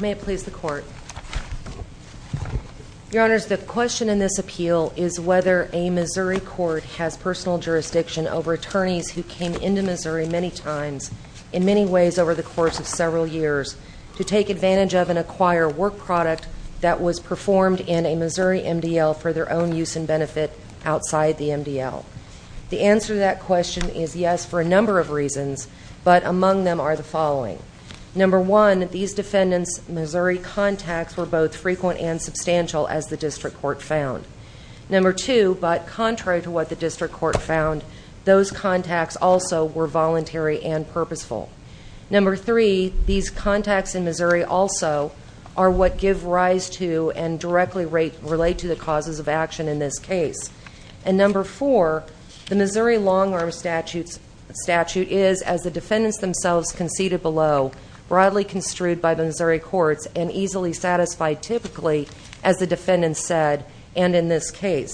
May it please the Court. Your Honors, the question in this appeal is whether a Missouri court has personal jurisdiction over attorneys who came into Missouri many times in many ways over the course of several years to take advantage of and acquire work product that was performed in a Missouri MDL for their own use and benefit outside the MDL. The answer to that question is yes for a number of reasons, but among them are the following. Number one, these defendants' Missouri contacts were both frequent and substantial as the district court found. Number two, but contrary to what the district court found, those contacts also were voluntary and purposeful. Number three, these contacts in Missouri also are what give rise to and directly relate to the causes of action in this case. And number four, the Missouri long-arm statute is, as the defendants themselves conceded below, broadly construed by the Missouri courts and easily satisfied typically, as the defendants said and in this case.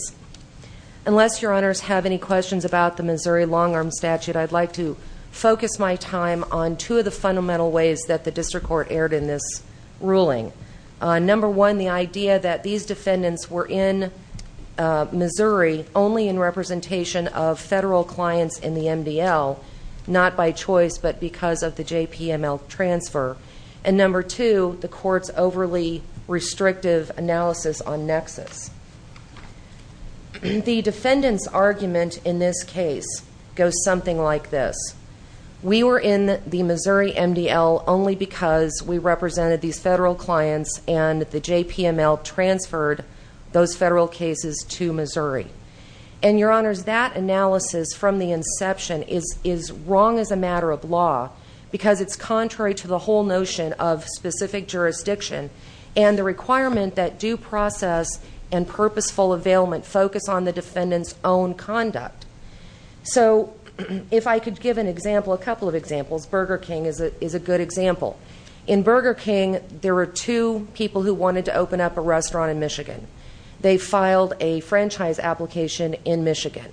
Unless Your Honors have any questions about the Missouri long-arm statute, I'd like to spend time on two of the fundamental ways that the district court erred in this ruling. Number one, the idea that these defendants were in Missouri only in representation of federal clients in the MDL, not by choice, but because of the JPML transfer. And number two, the court's overly restrictive analysis on nexus. The defendants' argument in this case goes something like this. We were in the Missouri MDL only because we represented these federal clients and the JPML transferred those federal cases to Missouri. And Your Honors, that analysis from the inception is wrong as a matter of law because it's contrary to the whole notion of specific jurisdiction and the requirement that due process and purposeful availment focus on the defendant's own conduct. So if I could give an example, a couple of examples, Burger King is a good example. In Burger King, there were two people who wanted to open up a restaurant in Michigan. They filed a franchise application in Michigan.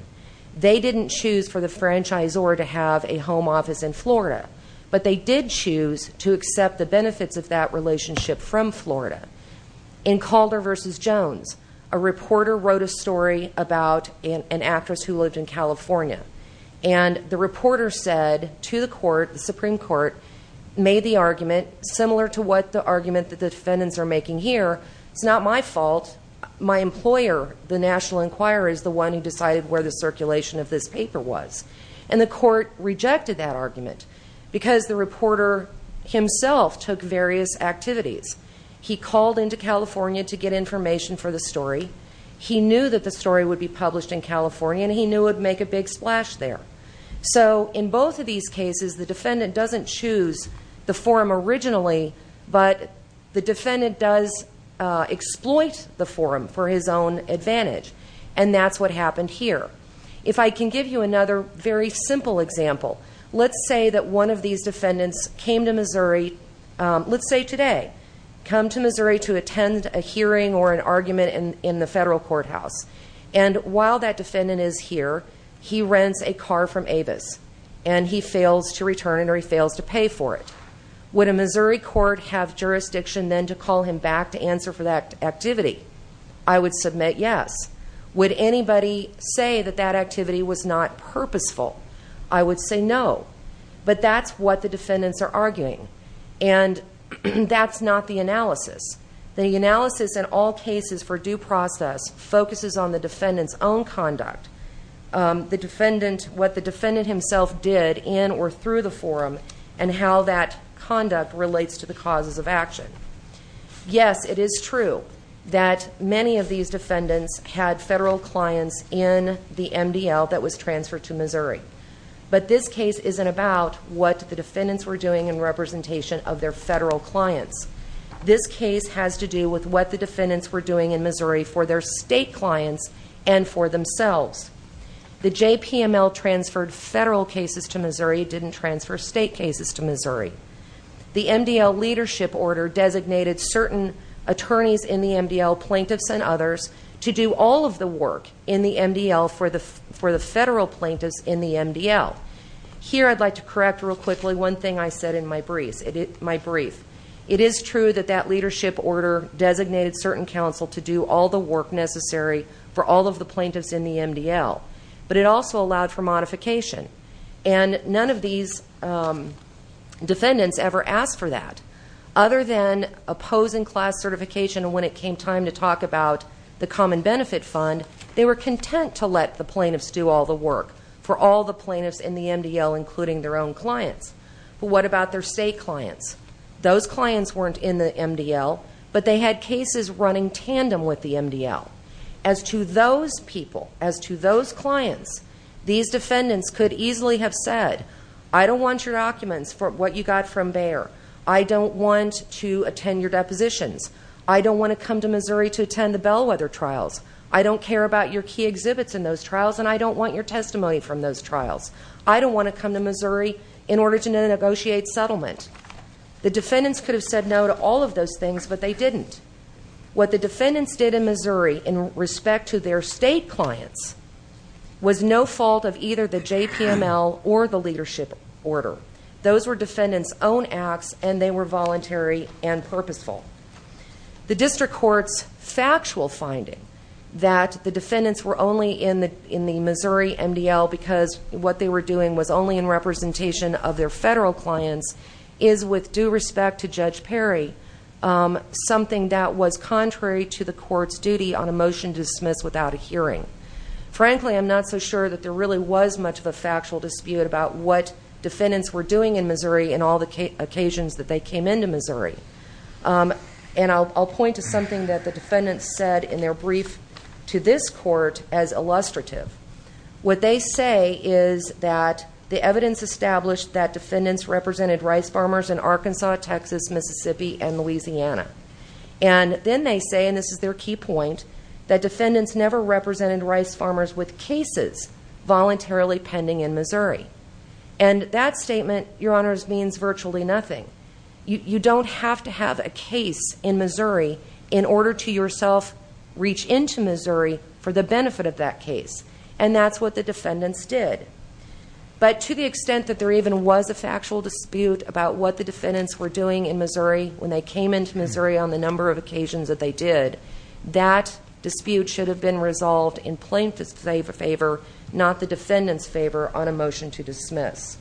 They didn't choose for the franchisor to have a home office in Florida, but they did choose to accept the benefits of that relationship from Florida. In Calder versus Jones, a reporter wrote a story about an actress who lived in California. And the reporter said to the court, the Supreme Court, made the argument similar to what the argument that the defendants are making here, it's not my fault. My employer, the National Enquirer, is the one who decided where the circulation of this paper was. And the court rejected that argument because the reporter himself took various activities. He called into California to get information for the story. He knew that the story would be published in California, and he knew it would make a big splash there. So in both of these cases, the defendant doesn't choose the forum originally, but the defendant does exploit the forum for his own advantage. And that's what happened here. If I can give you another very simple example, let's say that one of these defendants came to Missouri, let's say today, come to Missouri to attend a hearing or an argument in the federal courthouse. And while that defendant is here, he rents a car from Avis, and he fails to return or he fails to pay for it. Would a Missouri court have jurisdiction then to call him back to answer for that activity? I would submit yes. Would anybody say that that activity was not purposeful? I would say no. But that's what the defendants are arguing, and that's not the analysis. The analysis in all cases for due process focuses on the defendant's own conduct, what the defendant himself did in or through the forum, and how that conduct relates to the causes of action. Yes, it is true that many of these defendants had federal clients in the MDL that was transferred to Missouri. But this case isn't about what the defendants were doing in representation of their federal clients. This case has to do with what the defendants were doing in Missouri for their state clients and for themselves. The JPML transferred federal cases to Missouri, didn't transfer state cases to Missouri. The MDL leadership order designated certain attorneys in the MDL, plaintiffs and others, to do all of the work in the MDL for the federal plaintiffs in the MDL. Here I'd like to correct real quickly one thing I said in my brief. It is true that that leadership order designated certain counsel to do all the work necessary for all of the plaintiffs in the MDL, but it also allowed for modification. And none of these defendants ever asked for that, other than opposing class certification and when it came time to talk about the Common Benefit Fund, they were content to let the plaintiffs do all the work for all the plaintiffs in the MDL, including their own clients. What about their state clients? Those clients weren't in the MDL, but they had cases running tandem with the MDL. As to those people, as to those clients, these defendants could easily have said, I don't want your documents for what you got from there. I don't want to attend your depositions. I don't want to come to Missouri to attend the bellwether trials. I don't care about your key exhibits in those trials, and I don't want your testimony from those trials. I don't want to come to Missouri in order to negotiate settlement. The defendants could have said no to all of those things, but they didn't. What the defendants did in Missouri in respect to their state clients was no fault of either the JPML or the leadership order. Those were defendants' own acts, and they were voluntary and purposeful. The district court's factual finding that the defendants were only in the Missouri MDL because what they were doing was only in representation of their federal clients is, with due respect to Judge Perry, something that was contrary to the court's duty on a motion to dismiss without a hearing. Frankly, I'm not so sure that there really was much of a factual dispute about what defendants were doing in Missouri and all the occasions that they came into Missouri. And I'll point to something that the defendants said in their brief to this court as illustrative. What they say is that the evidence established that defendants represented rice farmers in Arkansas, Texas, Mississippi, and Louisiana. And then they say, and this is their key point, that defendants never represented rice farmers with cases voluntarily pending in Missouri. And that statement, Your Honors, means virtually nothing. You don't have to have a case in Missouri in order to yourself reach into Missouri for the benefit of that case. And that's what the defendants did. But to the extent that there even was a factual dispute about what the defendants were doing in Missouri when they came into Missouri on the number of occasions that they did, that dispute should have been resolved in plain favor, not the defendants' favor, on a motion to dismiss.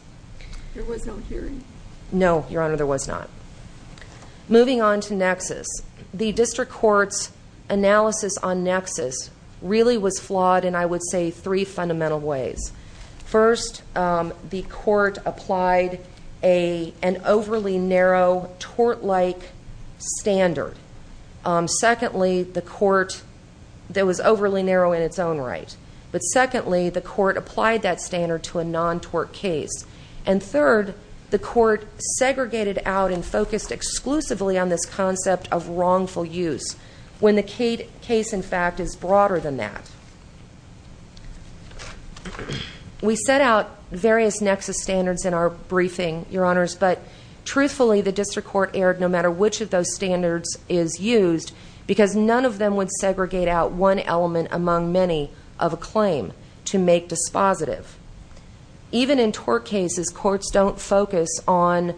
There was no hearing? No, Your Honor, there was not. Moving on to nexus. The district court's analysis on nexus really was flawed in, I would say, three fundamental ways. First, the court applied an overly narrow, tort-like standard. Secondly, the court, that was overly narrow in its own right, but secondly, the court applied that standard to a non-tort case. And third, the court segregated out and focused exclusively on this concept of wrongful use when the case, in fact, is broader than that. We set out various nexus standards in our briefing, Your Honors, but truthfully, the district court erred no matter which of those standards is used because none of them would be positive. Even in tort cases, courts don't focus on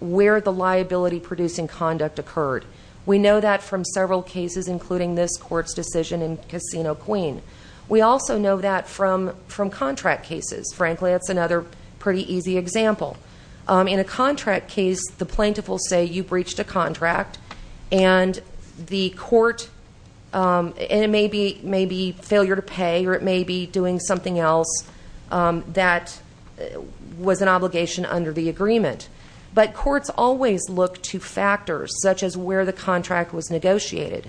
where the liability-producing conduct occurred. We know that from several cases, including this court's decision in Casino Queen. We also know that from contract cases. Frankly, that's another pretty easy example. In a contract case, the plaintiff will say, you breached a contract, and it may be failure to pay, or it may be doing something else that was an obligation under the agreement. But courts always look to factors, such as where the contract was negotiated.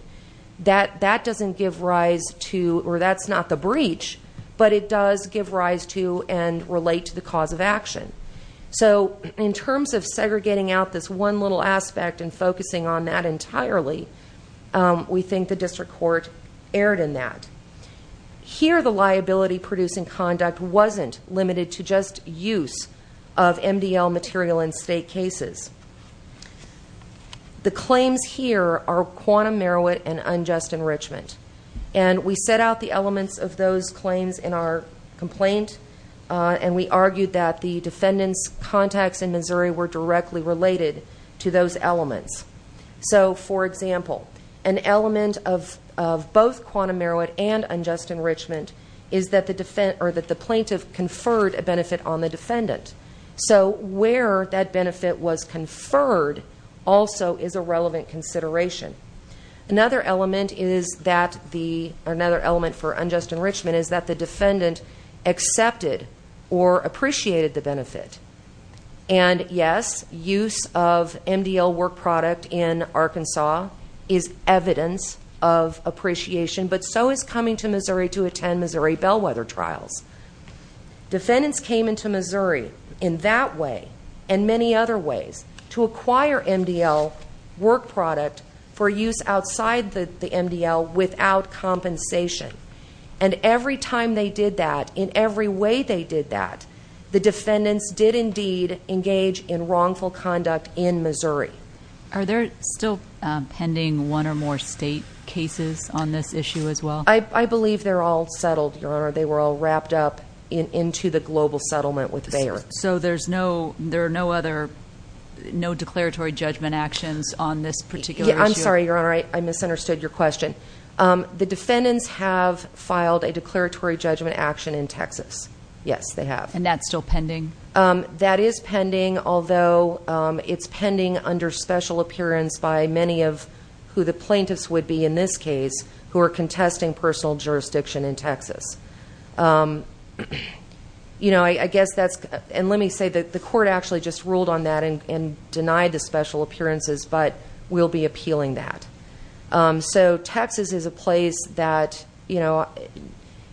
That doesn't give rise to, or that's not the breach, but it does give rise to and relate to the cause of action. So in terms of segregating out this one little aspect and focusing on that entirely, we think the district court erred in that. Here the liability-producing conduct wasn't limited to just use of MDL material in state cases. The claims here are quantum merowit and unjust enrichment. And we set out the elements of those claims in our complaint, and we argued that the defendant's contacts in Missouri were directly related to those elements. So for example, an element of both quantum merowit and unjust enrichment is that the plaintiff conferred a benefit on the defendant. So where that benefit was conferred also is a relevant consideration. Another element for unjust enrichment is that the defendant accepted or appreciated the benefit. And yes, use of MDL work product in Arkansas is evidence of appreciation, but so is coming to Missouri to attend Missouri bellwether trials. Defendants came into Missouri in that way and many other ways to acquire MDL work product for use outside the MDL without compensation. And every time they did that, in every way they did that, the defendants did indeed engage in wrongful conduct in Missouri. Are there still pending one or more state cases on this issue as well? I believe they're all settled, Your Honor. They were all wrapped up into the global settlement with Bayer. So there are no other, no declaratory judgment actions on this particular issue? I'm sorry, Your Honor. I misunderstood your question. The defendants have filed a declaratory judgment action in Texas. Yes, they have. And that's still pending? That is pending, although it's pending under special appearance by many of who the plaintiffs would be in this case who are contesting personal jurisdiction in Texas. You know, I guess that's, and let me say that the court actually just ruled on that and denied the special appearances, but we'll be appealing that. So Texas is a place that, you know,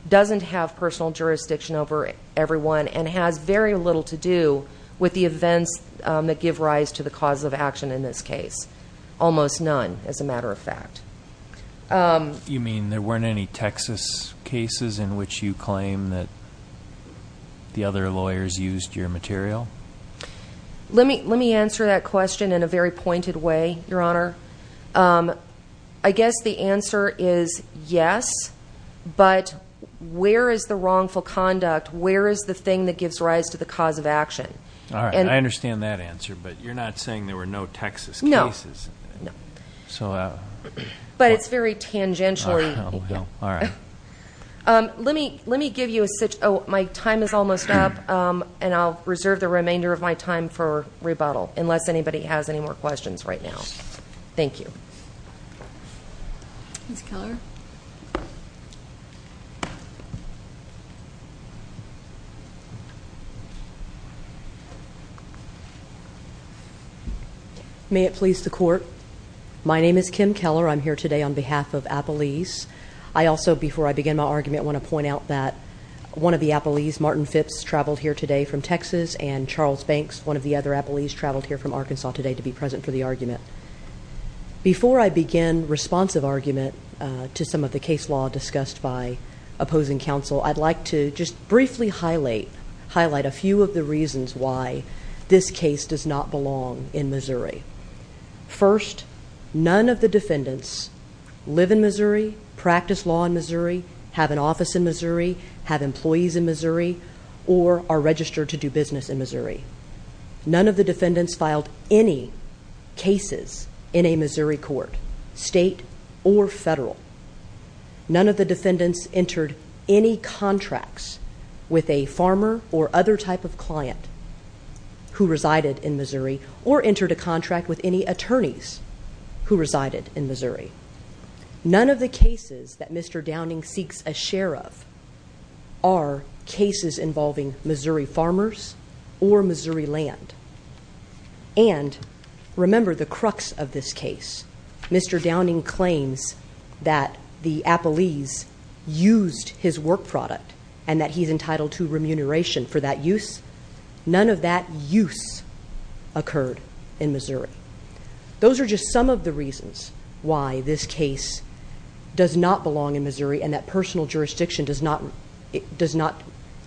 doesn't have personal jurisdiction over everyone and has very little to do with the events that give rise to the cause of action in this case. Almost none, as a matter of fact. You mean there weren't any Texas cases in which you claim that the other lawyers used your material? Let me answer that question in a very pointed way, Your Honor. I guess the answer is yes, but where is the wrongful conduct? Where is the thing that gives rise to the cause of action? All right. I understand that answer, but you're not saying there were no Texas cases? No. No. So. But it's very tangentially. All right. Let me give you a, oh, my time is almost up, and I'll reserve the remainder of my time for rebuttal, unless anybody has any more questions right now. Thank you. Ms. Keller? May it please the court? My name is Kim Keller. I'm here today on behalf of Appalese. I also, before I begin my argument, want to point out that one of the Appalese, Martin Phipps, traveled here today from Texas, and Charles Banks, one of the other Appalese, traveled here from Arkansas today to be present for the argument. Before I begin responsive argument to some of the case law discussed by opposing counsel, I'd like to just briefly highlight a few of the reasons why this case does not belong in Missouri. First, none of the defendants live in Missouri, practice law in Missouri, have an office in Missouri, have employees in Missouri, or are registered to do business in Missouri. None of the defendants filed any cases in a Missouri court, state or federal. None of the defendants entered any contracts with a farmer or other type of client who had a contract with any attorneys who resided in Missouri. None of the cases that Mr. Downing seeks a share of are cases involving Missouri farmers or Missouri land. And remember the crux of this case, Mr. Downing claims that the Appalese used his work product and that he's entitled to remuneration for that use. None of that use occurred in Missouri. Those are just some of the reasons why this case does not belong in Missouri and that personal jurisdiction does not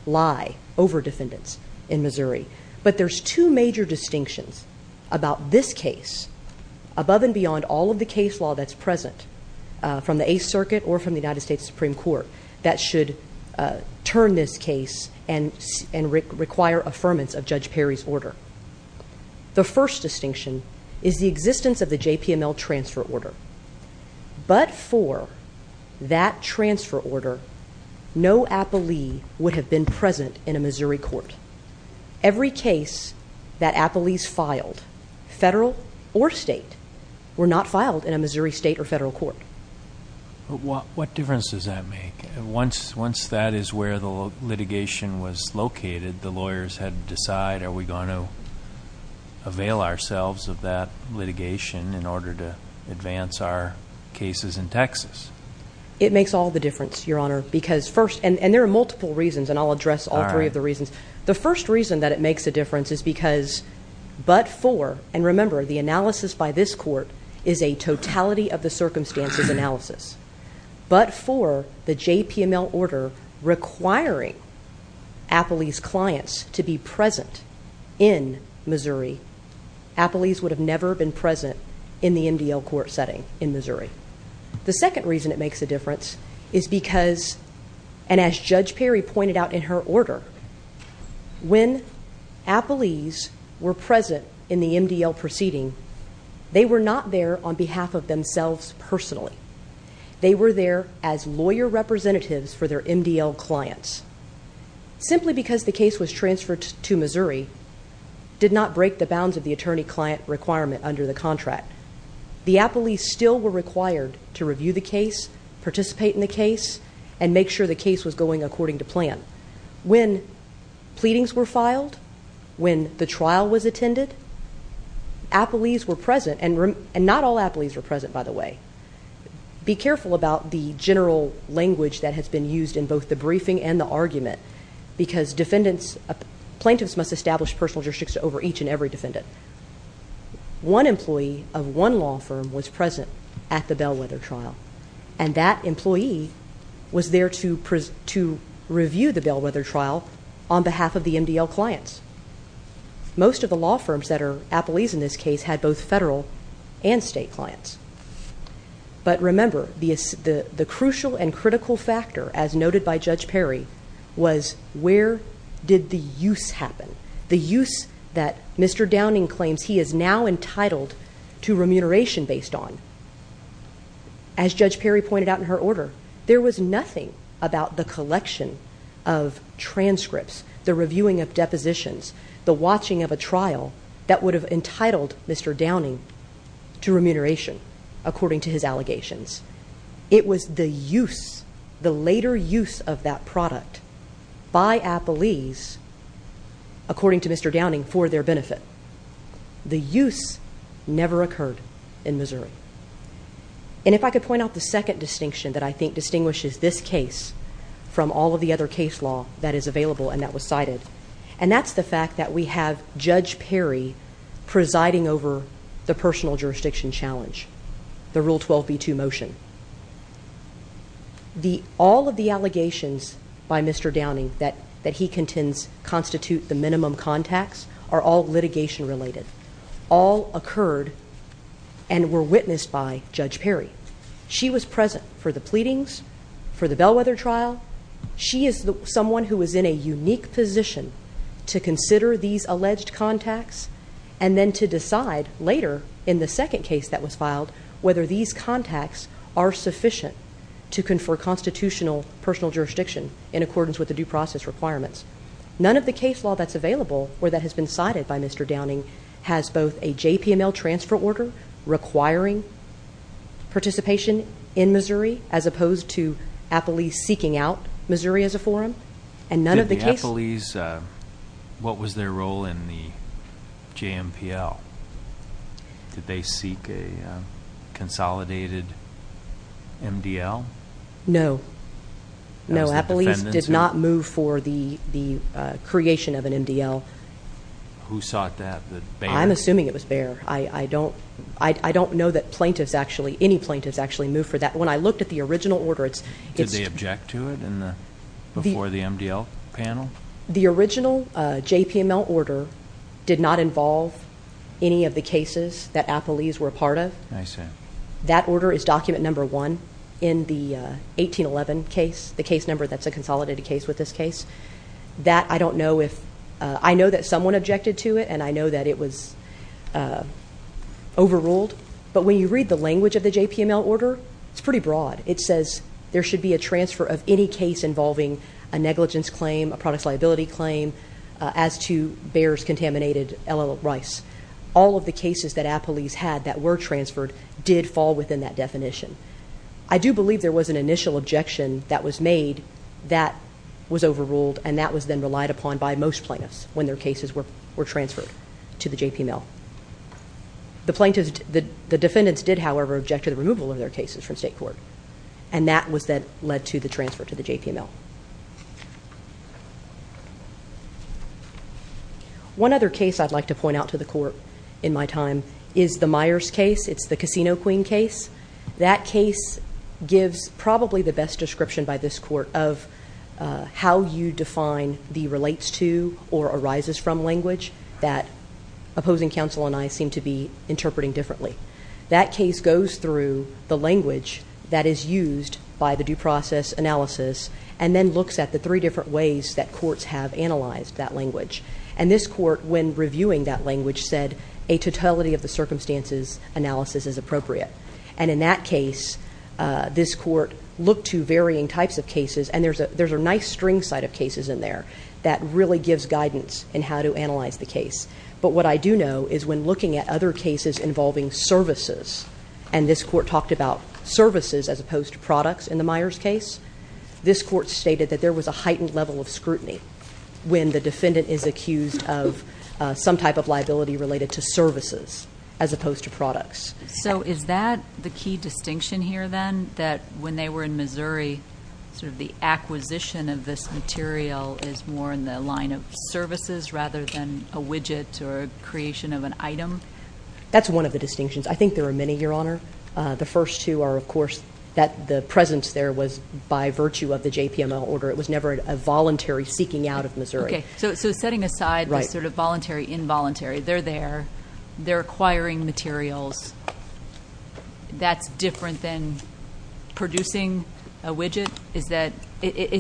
lie over defendants in Missouri. But there's two major distinctions about this case above and beyond all of the case law that's present from the Eighth Circuit or from the United States Supreme Court that should turn this case and require affirmance of Judge Perry's order. The first distinction is the existence of the JPML transfer order. But for that transfer order, no Appalee would have been present in a Missouri court. Every case that Appalese filed, federal or state, were not filed in a Missouri state or federal court. But what difference does that make? Once that is where the litigation was located, the lawyers had to decide, are we going to avail ourselves of that litigation in order to advance our cases in Texas? It makes all the difference, Your Honor, because first, and there are multiple reasons and I'll address all three of the reasons. The first reason that it makes a difference is because but for, and remember the analysis by this court is a totality of the circumstances analysis. But for the JPML order requiring Appalese clients to be present in Missouri, Appalese would have never been present in the MDL court setting in Missouri. The second reason it makes a difference is because, and as Judge Perry pointed out in her order, when Appalese were present in the MDL proceeding, they were not there on behalf of themselves personally. They were there as lawyer representatives for their MDL clients. Simply because the case was transferred to Missouri did not break the bounds of the attorney client requirement under the contract. The Appalese still were required to review the case, participate in the case, and make sure the case was going according to plan. When pleadings were filed, when the trial was attended, Appalese were present, and not all Appalese were present by the way. Be careful about the general language that has been used in both the briefing and the argument because defendants, plaintiffs must establish personal jurisdictions over each and every defendant. One employee of one law firm was present at the Bellwether trial. And that employee was there to review the Bellwether trial on behalf of the MDL clients. Most of the law firms that are Appalese in this case had both federal and state clients. But remember, the crucial and critical factor, as noted by Judge Perry, was where did the use happen? The use that Mr. Downing claims he is now entitled to remuneration based on. As Judge Perry pointed out in her order, there was nothing about the collection of transcripts, the reviewing of depositions, the watching of a trial that would have entitled Mr. Downing to remuneration according to his allegations. It was the use, the later use of that product by Appalese, according to Mr. Downing, for their benefit. The use never occurred in Missouri. And if I could point out the second distinction that I think distinguishes this case from all of the other case law that is available and that was cited, and that's the fact that we have Judge Perry presiding over the personal jurisdiction challenge, the Rule 12b2 motion. All of the allegations by Mr. Downing that he contends constitute the minimum contacts are all litigation related. All occurred and were witnessed by Judge Perry. She was present for the pleadings, for the Bellwether trial. She is someone who is in a unique position to consider these alleged contacts and then to decide later in the second case that was filed whether these contacts are sufficient to confer constitutional personal jurisdiction in accordance with the due process requirements. None of the case law that's available or that has been cited by Mr. Downing has both a JPML transfer order requiring participation in Missouri as opposed to Appalese seeking out Missouri as a forum. And none of the case- Did the Appalese, what was their role in the JMPL? Did they seek a consolidated MDL? No. No, Appalese did not move for the creation of an MDL. Who sought that? Bayer? I'm assuming it was Bayer. I don't know that plaintiffs actually, any plaintiffs actually moved for that. When I looked at the original order, it's- Did they object to it before the MDL panel? The original JPML order did not involve any of the cases that Appalese were a part of. I see. That order is document number one in the 1811 case, the case number that's a consolidated case with this case. That I don't know if, I know that someone objected to it and I know that it was overruled. But when you read the language of the JPML order, it's pretty broad. It says there should be a transfer of any case involving a negligence claim, a products liability claim, as to Bayer's contaminated L.L. Rice. All of the cases that Appalese had that were transferred did fall within that definition. I do believe there was an initial objection that was made that was overruled and that was then relied upon by most plaintiffs when their cases were transferred to the JPML. The plaintiffs, the defendants did however object to the removal of their cases from state court and that was then led to the transfer to the JPML. Thank you. One other case I'd like to point out to the court in my time is the Myers case. It's the Casino Queen case. That case gives probably the best description by this court of how you define the relates to or arises from language that opposing counsel and I seem to be interpreting differently. That case goes through the language that is used by the due process analysis and then looks at the three different ways that courts have analyzed that language. And this court, when reviewing that language, said a totality of the circumstances analysis is appropriate. And in that case, this court looked to varying types of cases and there's a nice string side of cases in there that really gives guidance in how to analyze the case. But what I do know is when looking at other cases involving services, and this court talked about services as opposed to products in the Myers case, this court stated that there was a heightened level of scrutiny when the defendant is accused of some type of liability related to services as opposed to products. So is that the key distinction here then, that when they were in Missouri, sort of the line of services rather than a widget or creation of an item? That's one of the distinctions. I think there are many, Your Honor. The first two are, of course, that the presence there was by virtue of the JPML order. It was never a voluntary seeking out of Missouri. Okay. So setting aside the sort of voluntary, involuntary, they're there, they're acquiring materials. That's different than producing a widget? Is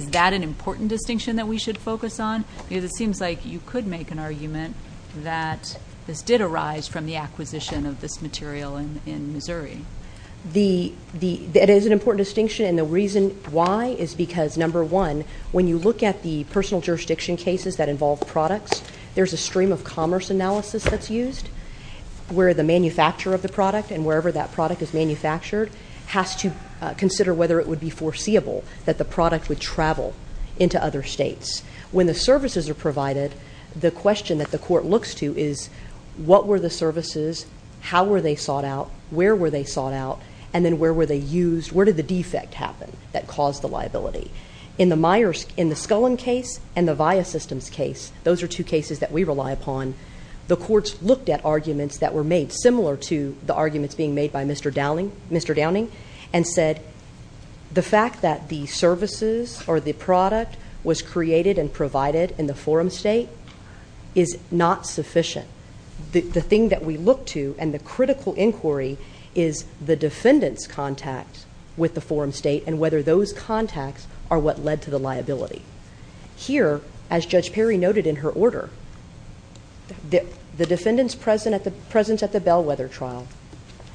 that an important distinction that we should focus on? Because it seems like you could make an argument that this did arise from the acquisition of this material in Missouri. That is an important distinction and the reason why is because, number one, when you look at the personal jurisdiction cases that involve products, there's a stream of commerce analysis that's used where the manufacturer of the product and wherever that product is manufactured has to consider whether it would be foreseeable that the product would travel into other states. When the services are provided, the question that the court looks to is what were the services, how were they sought out, where were they sought out, and then where were they used, where did the defect happen that caused the liability? In the Scullin case and the Viya Systems case, those are two cases that we rely upon, the courts looked at arguments that were made similar to the arguments being made by Mr. Downing and said the fact that the services or the product was created and provided in the forum state is not sufficient. The thing that we look to and the critical inquiry is the defendant's contact with the forum state and whether those contacts are what led to the liability. Here, as Judge Perry noted in her order, the defendant's presence at the Bellwether trial,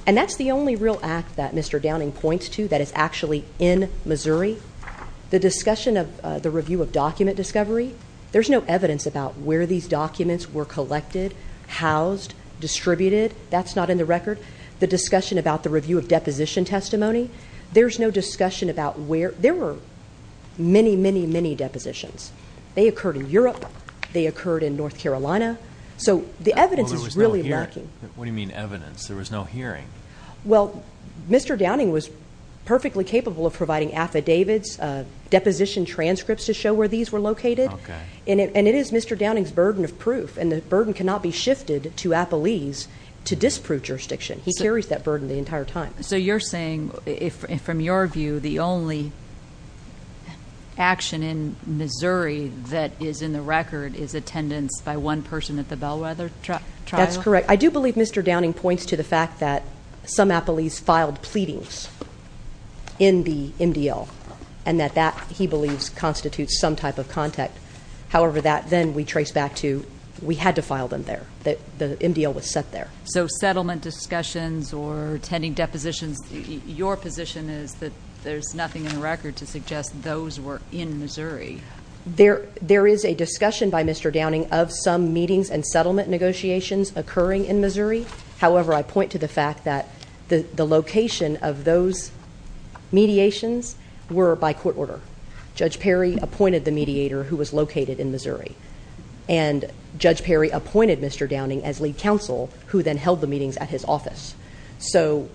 and that's the only real act that Mr. Downing points to that is actually in Missouri. The discussion of the review of document discovery, there's no evidence about where these documents were collected, housed, distributed. That's not in the record. The discussion about the review of deposition testimony, there's no discussion about where, there were many, many, many depositions. They occurred in Europe, they occurred in North Carolina, so the evidence is really lacking. What do you mean evidence? There was no hearing. Well, Mr. Downing was perfectly capable of providing affidavits, deposition transcripts to show where these were located. And it is Mr. Downing's burden of proof, and the burden cannot be shifted to appellees to disprove jurisdiction. He carries that burden the entire time. So you're saying, from your view, the only action in Missouri that is in the record is attendance by one person at the Bellwether trial? That's correct. I do believe Mr. Downing points to the fact that some appellees filed pleadings in the MDL. And that that, he believes, constitutes some type of contact. However, that then we trace back to, we had to file them there, that the MDL was set there. So settlement discussions or attending depositions, your position is that there's nothing in the record to suggest those were in Missouri. There is a discussion by Mr. Downing of some meetings and settlement negotiations occurring in Missouri. However, I point to the fact that the location of those mediations were by court order. Judge Perry appointed the mediator who was located in Missouri. And Judge Perry appointed Mr. Downing as lead counsel, who then held the meetings at his office. So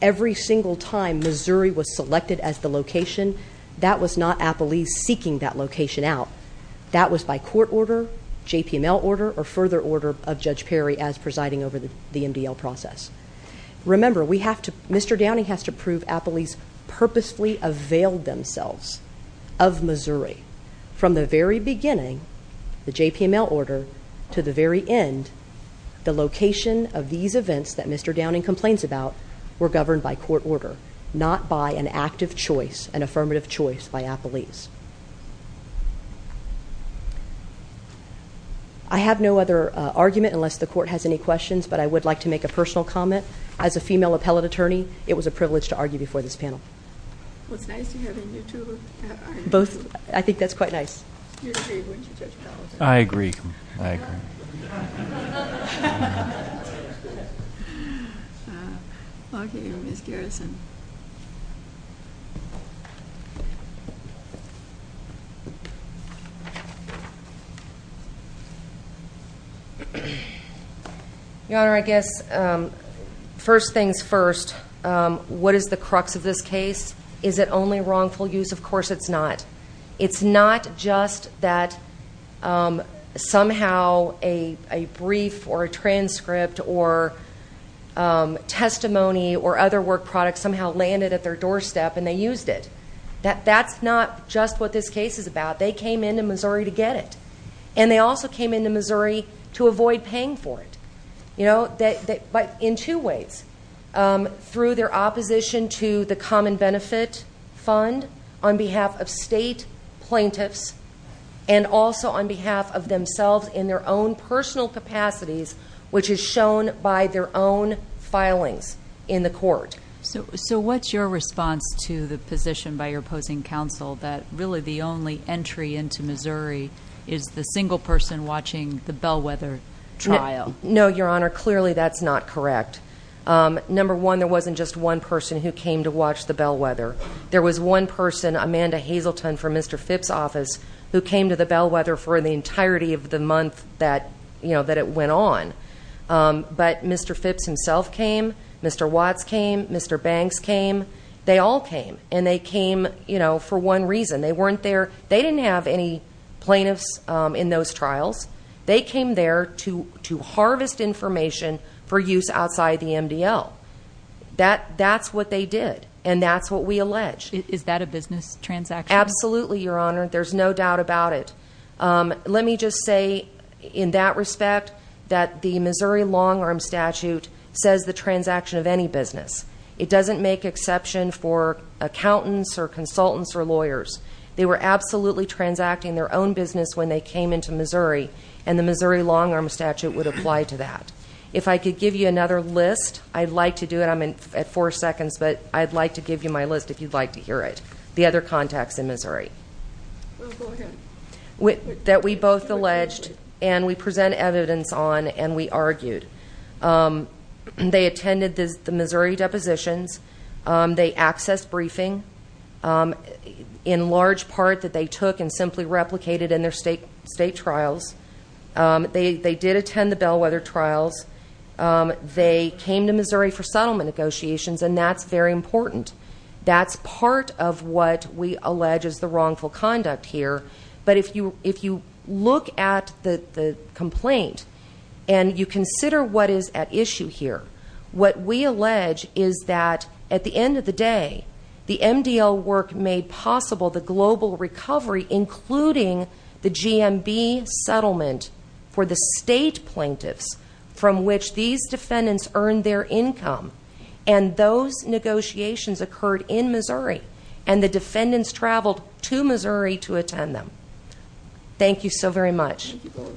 every single time Missouri was selected as the location, that was not appellees seeking that location out. That was by court order, JPML order, or further order of Judge Perry as presiding over the MDL process. Remember, Mr. Downing has to prove appellees purposefully availed themselves of Missouri. From the very beginning, the JPML order, to the very end, the location of these events that Mr. Downing complains about were governed by court order. Not by an active choice, an affirmative choice by appellees. I have no other argument unless the court has any questions, but I would like to make a personal comment. As a female appellate attorney, it was a privilege to argue before this panel. What's nice, you have a new tool? Both, I think that's quite nice. You're great when you judge appellate. I agree, I agree. Okay, Ms. Garrison. Your Honor, I guess first things first, what is the crux of this case? Is it only wrongful use? Of course it's not. It's not just that somehow a brief or a transcript or testimony or other work product somehow landed at their doorstep and they used it. That's not just what this case is about. They came into Missouri to get it. And they also came into Missouri to avoid paying for it. But in two ways, through their opposition to the common benefit fund on behalf of state plaintiffs and also on behalf of themselves in their own personal capacities, which is shown by their own filings in the court. So what's your response to the position by your opposing counsel that really the only entry into Missouri is the single person watching the bellwether trial? No, Your Honor, clearly that's not correct. Number one, there wasn't just one person who came to watch the bellwether. There was one person, Amanda Hazleton from Mr. Phipps' office, who came to the bellwether for the entirety of the month that it went on. But Mr. Phipps himself came, Mr. Watts came, Mr. Banks came. They all came, and they came for one reason. They weren't there, they didn't have any plaintiffs in those trials. They came there to harvest information for use outside the MDL. That's what they did, and that's what we allege. Is that a business transaction? Absolutely, Your Honor, there's no doubt about it. Let me just say in that respect that the Missouri long arm statute says the transaction of any business. It doesn't make exception for accountants or consultants or lawyers. They were absolutely transacting their own business when they came into Missouri, and the Missouri long arm statute would apply to that. If I could give you another list, I'd like to do it, I'm at four seconds, but I'd like to give you my list if you'd like to hear it, the other contacts in Missouri. Go ahead. That we both alleged, and we present evidence on, and we argued. They attended the Missouri depositions. They accessed briefing in large part that they took and simply replicated in their state trials. They did attend the bellwether trials. They came to Missouri for settlement negotiations, and that's very important. That's part of what we allege is the wrongful conduct here. But if you look at the complaint, and you consider what is at issue here. What we allege is that at the end of the day, the MDL work made possible the global recovery, including the GMB settlement for the state plaintiffs. From which these defendants earned their income, and those negotiations occurred in Missouri. And the defendants traveled to Missouri to attend them. Thank you so very much. We appreciate your time. Thank you both.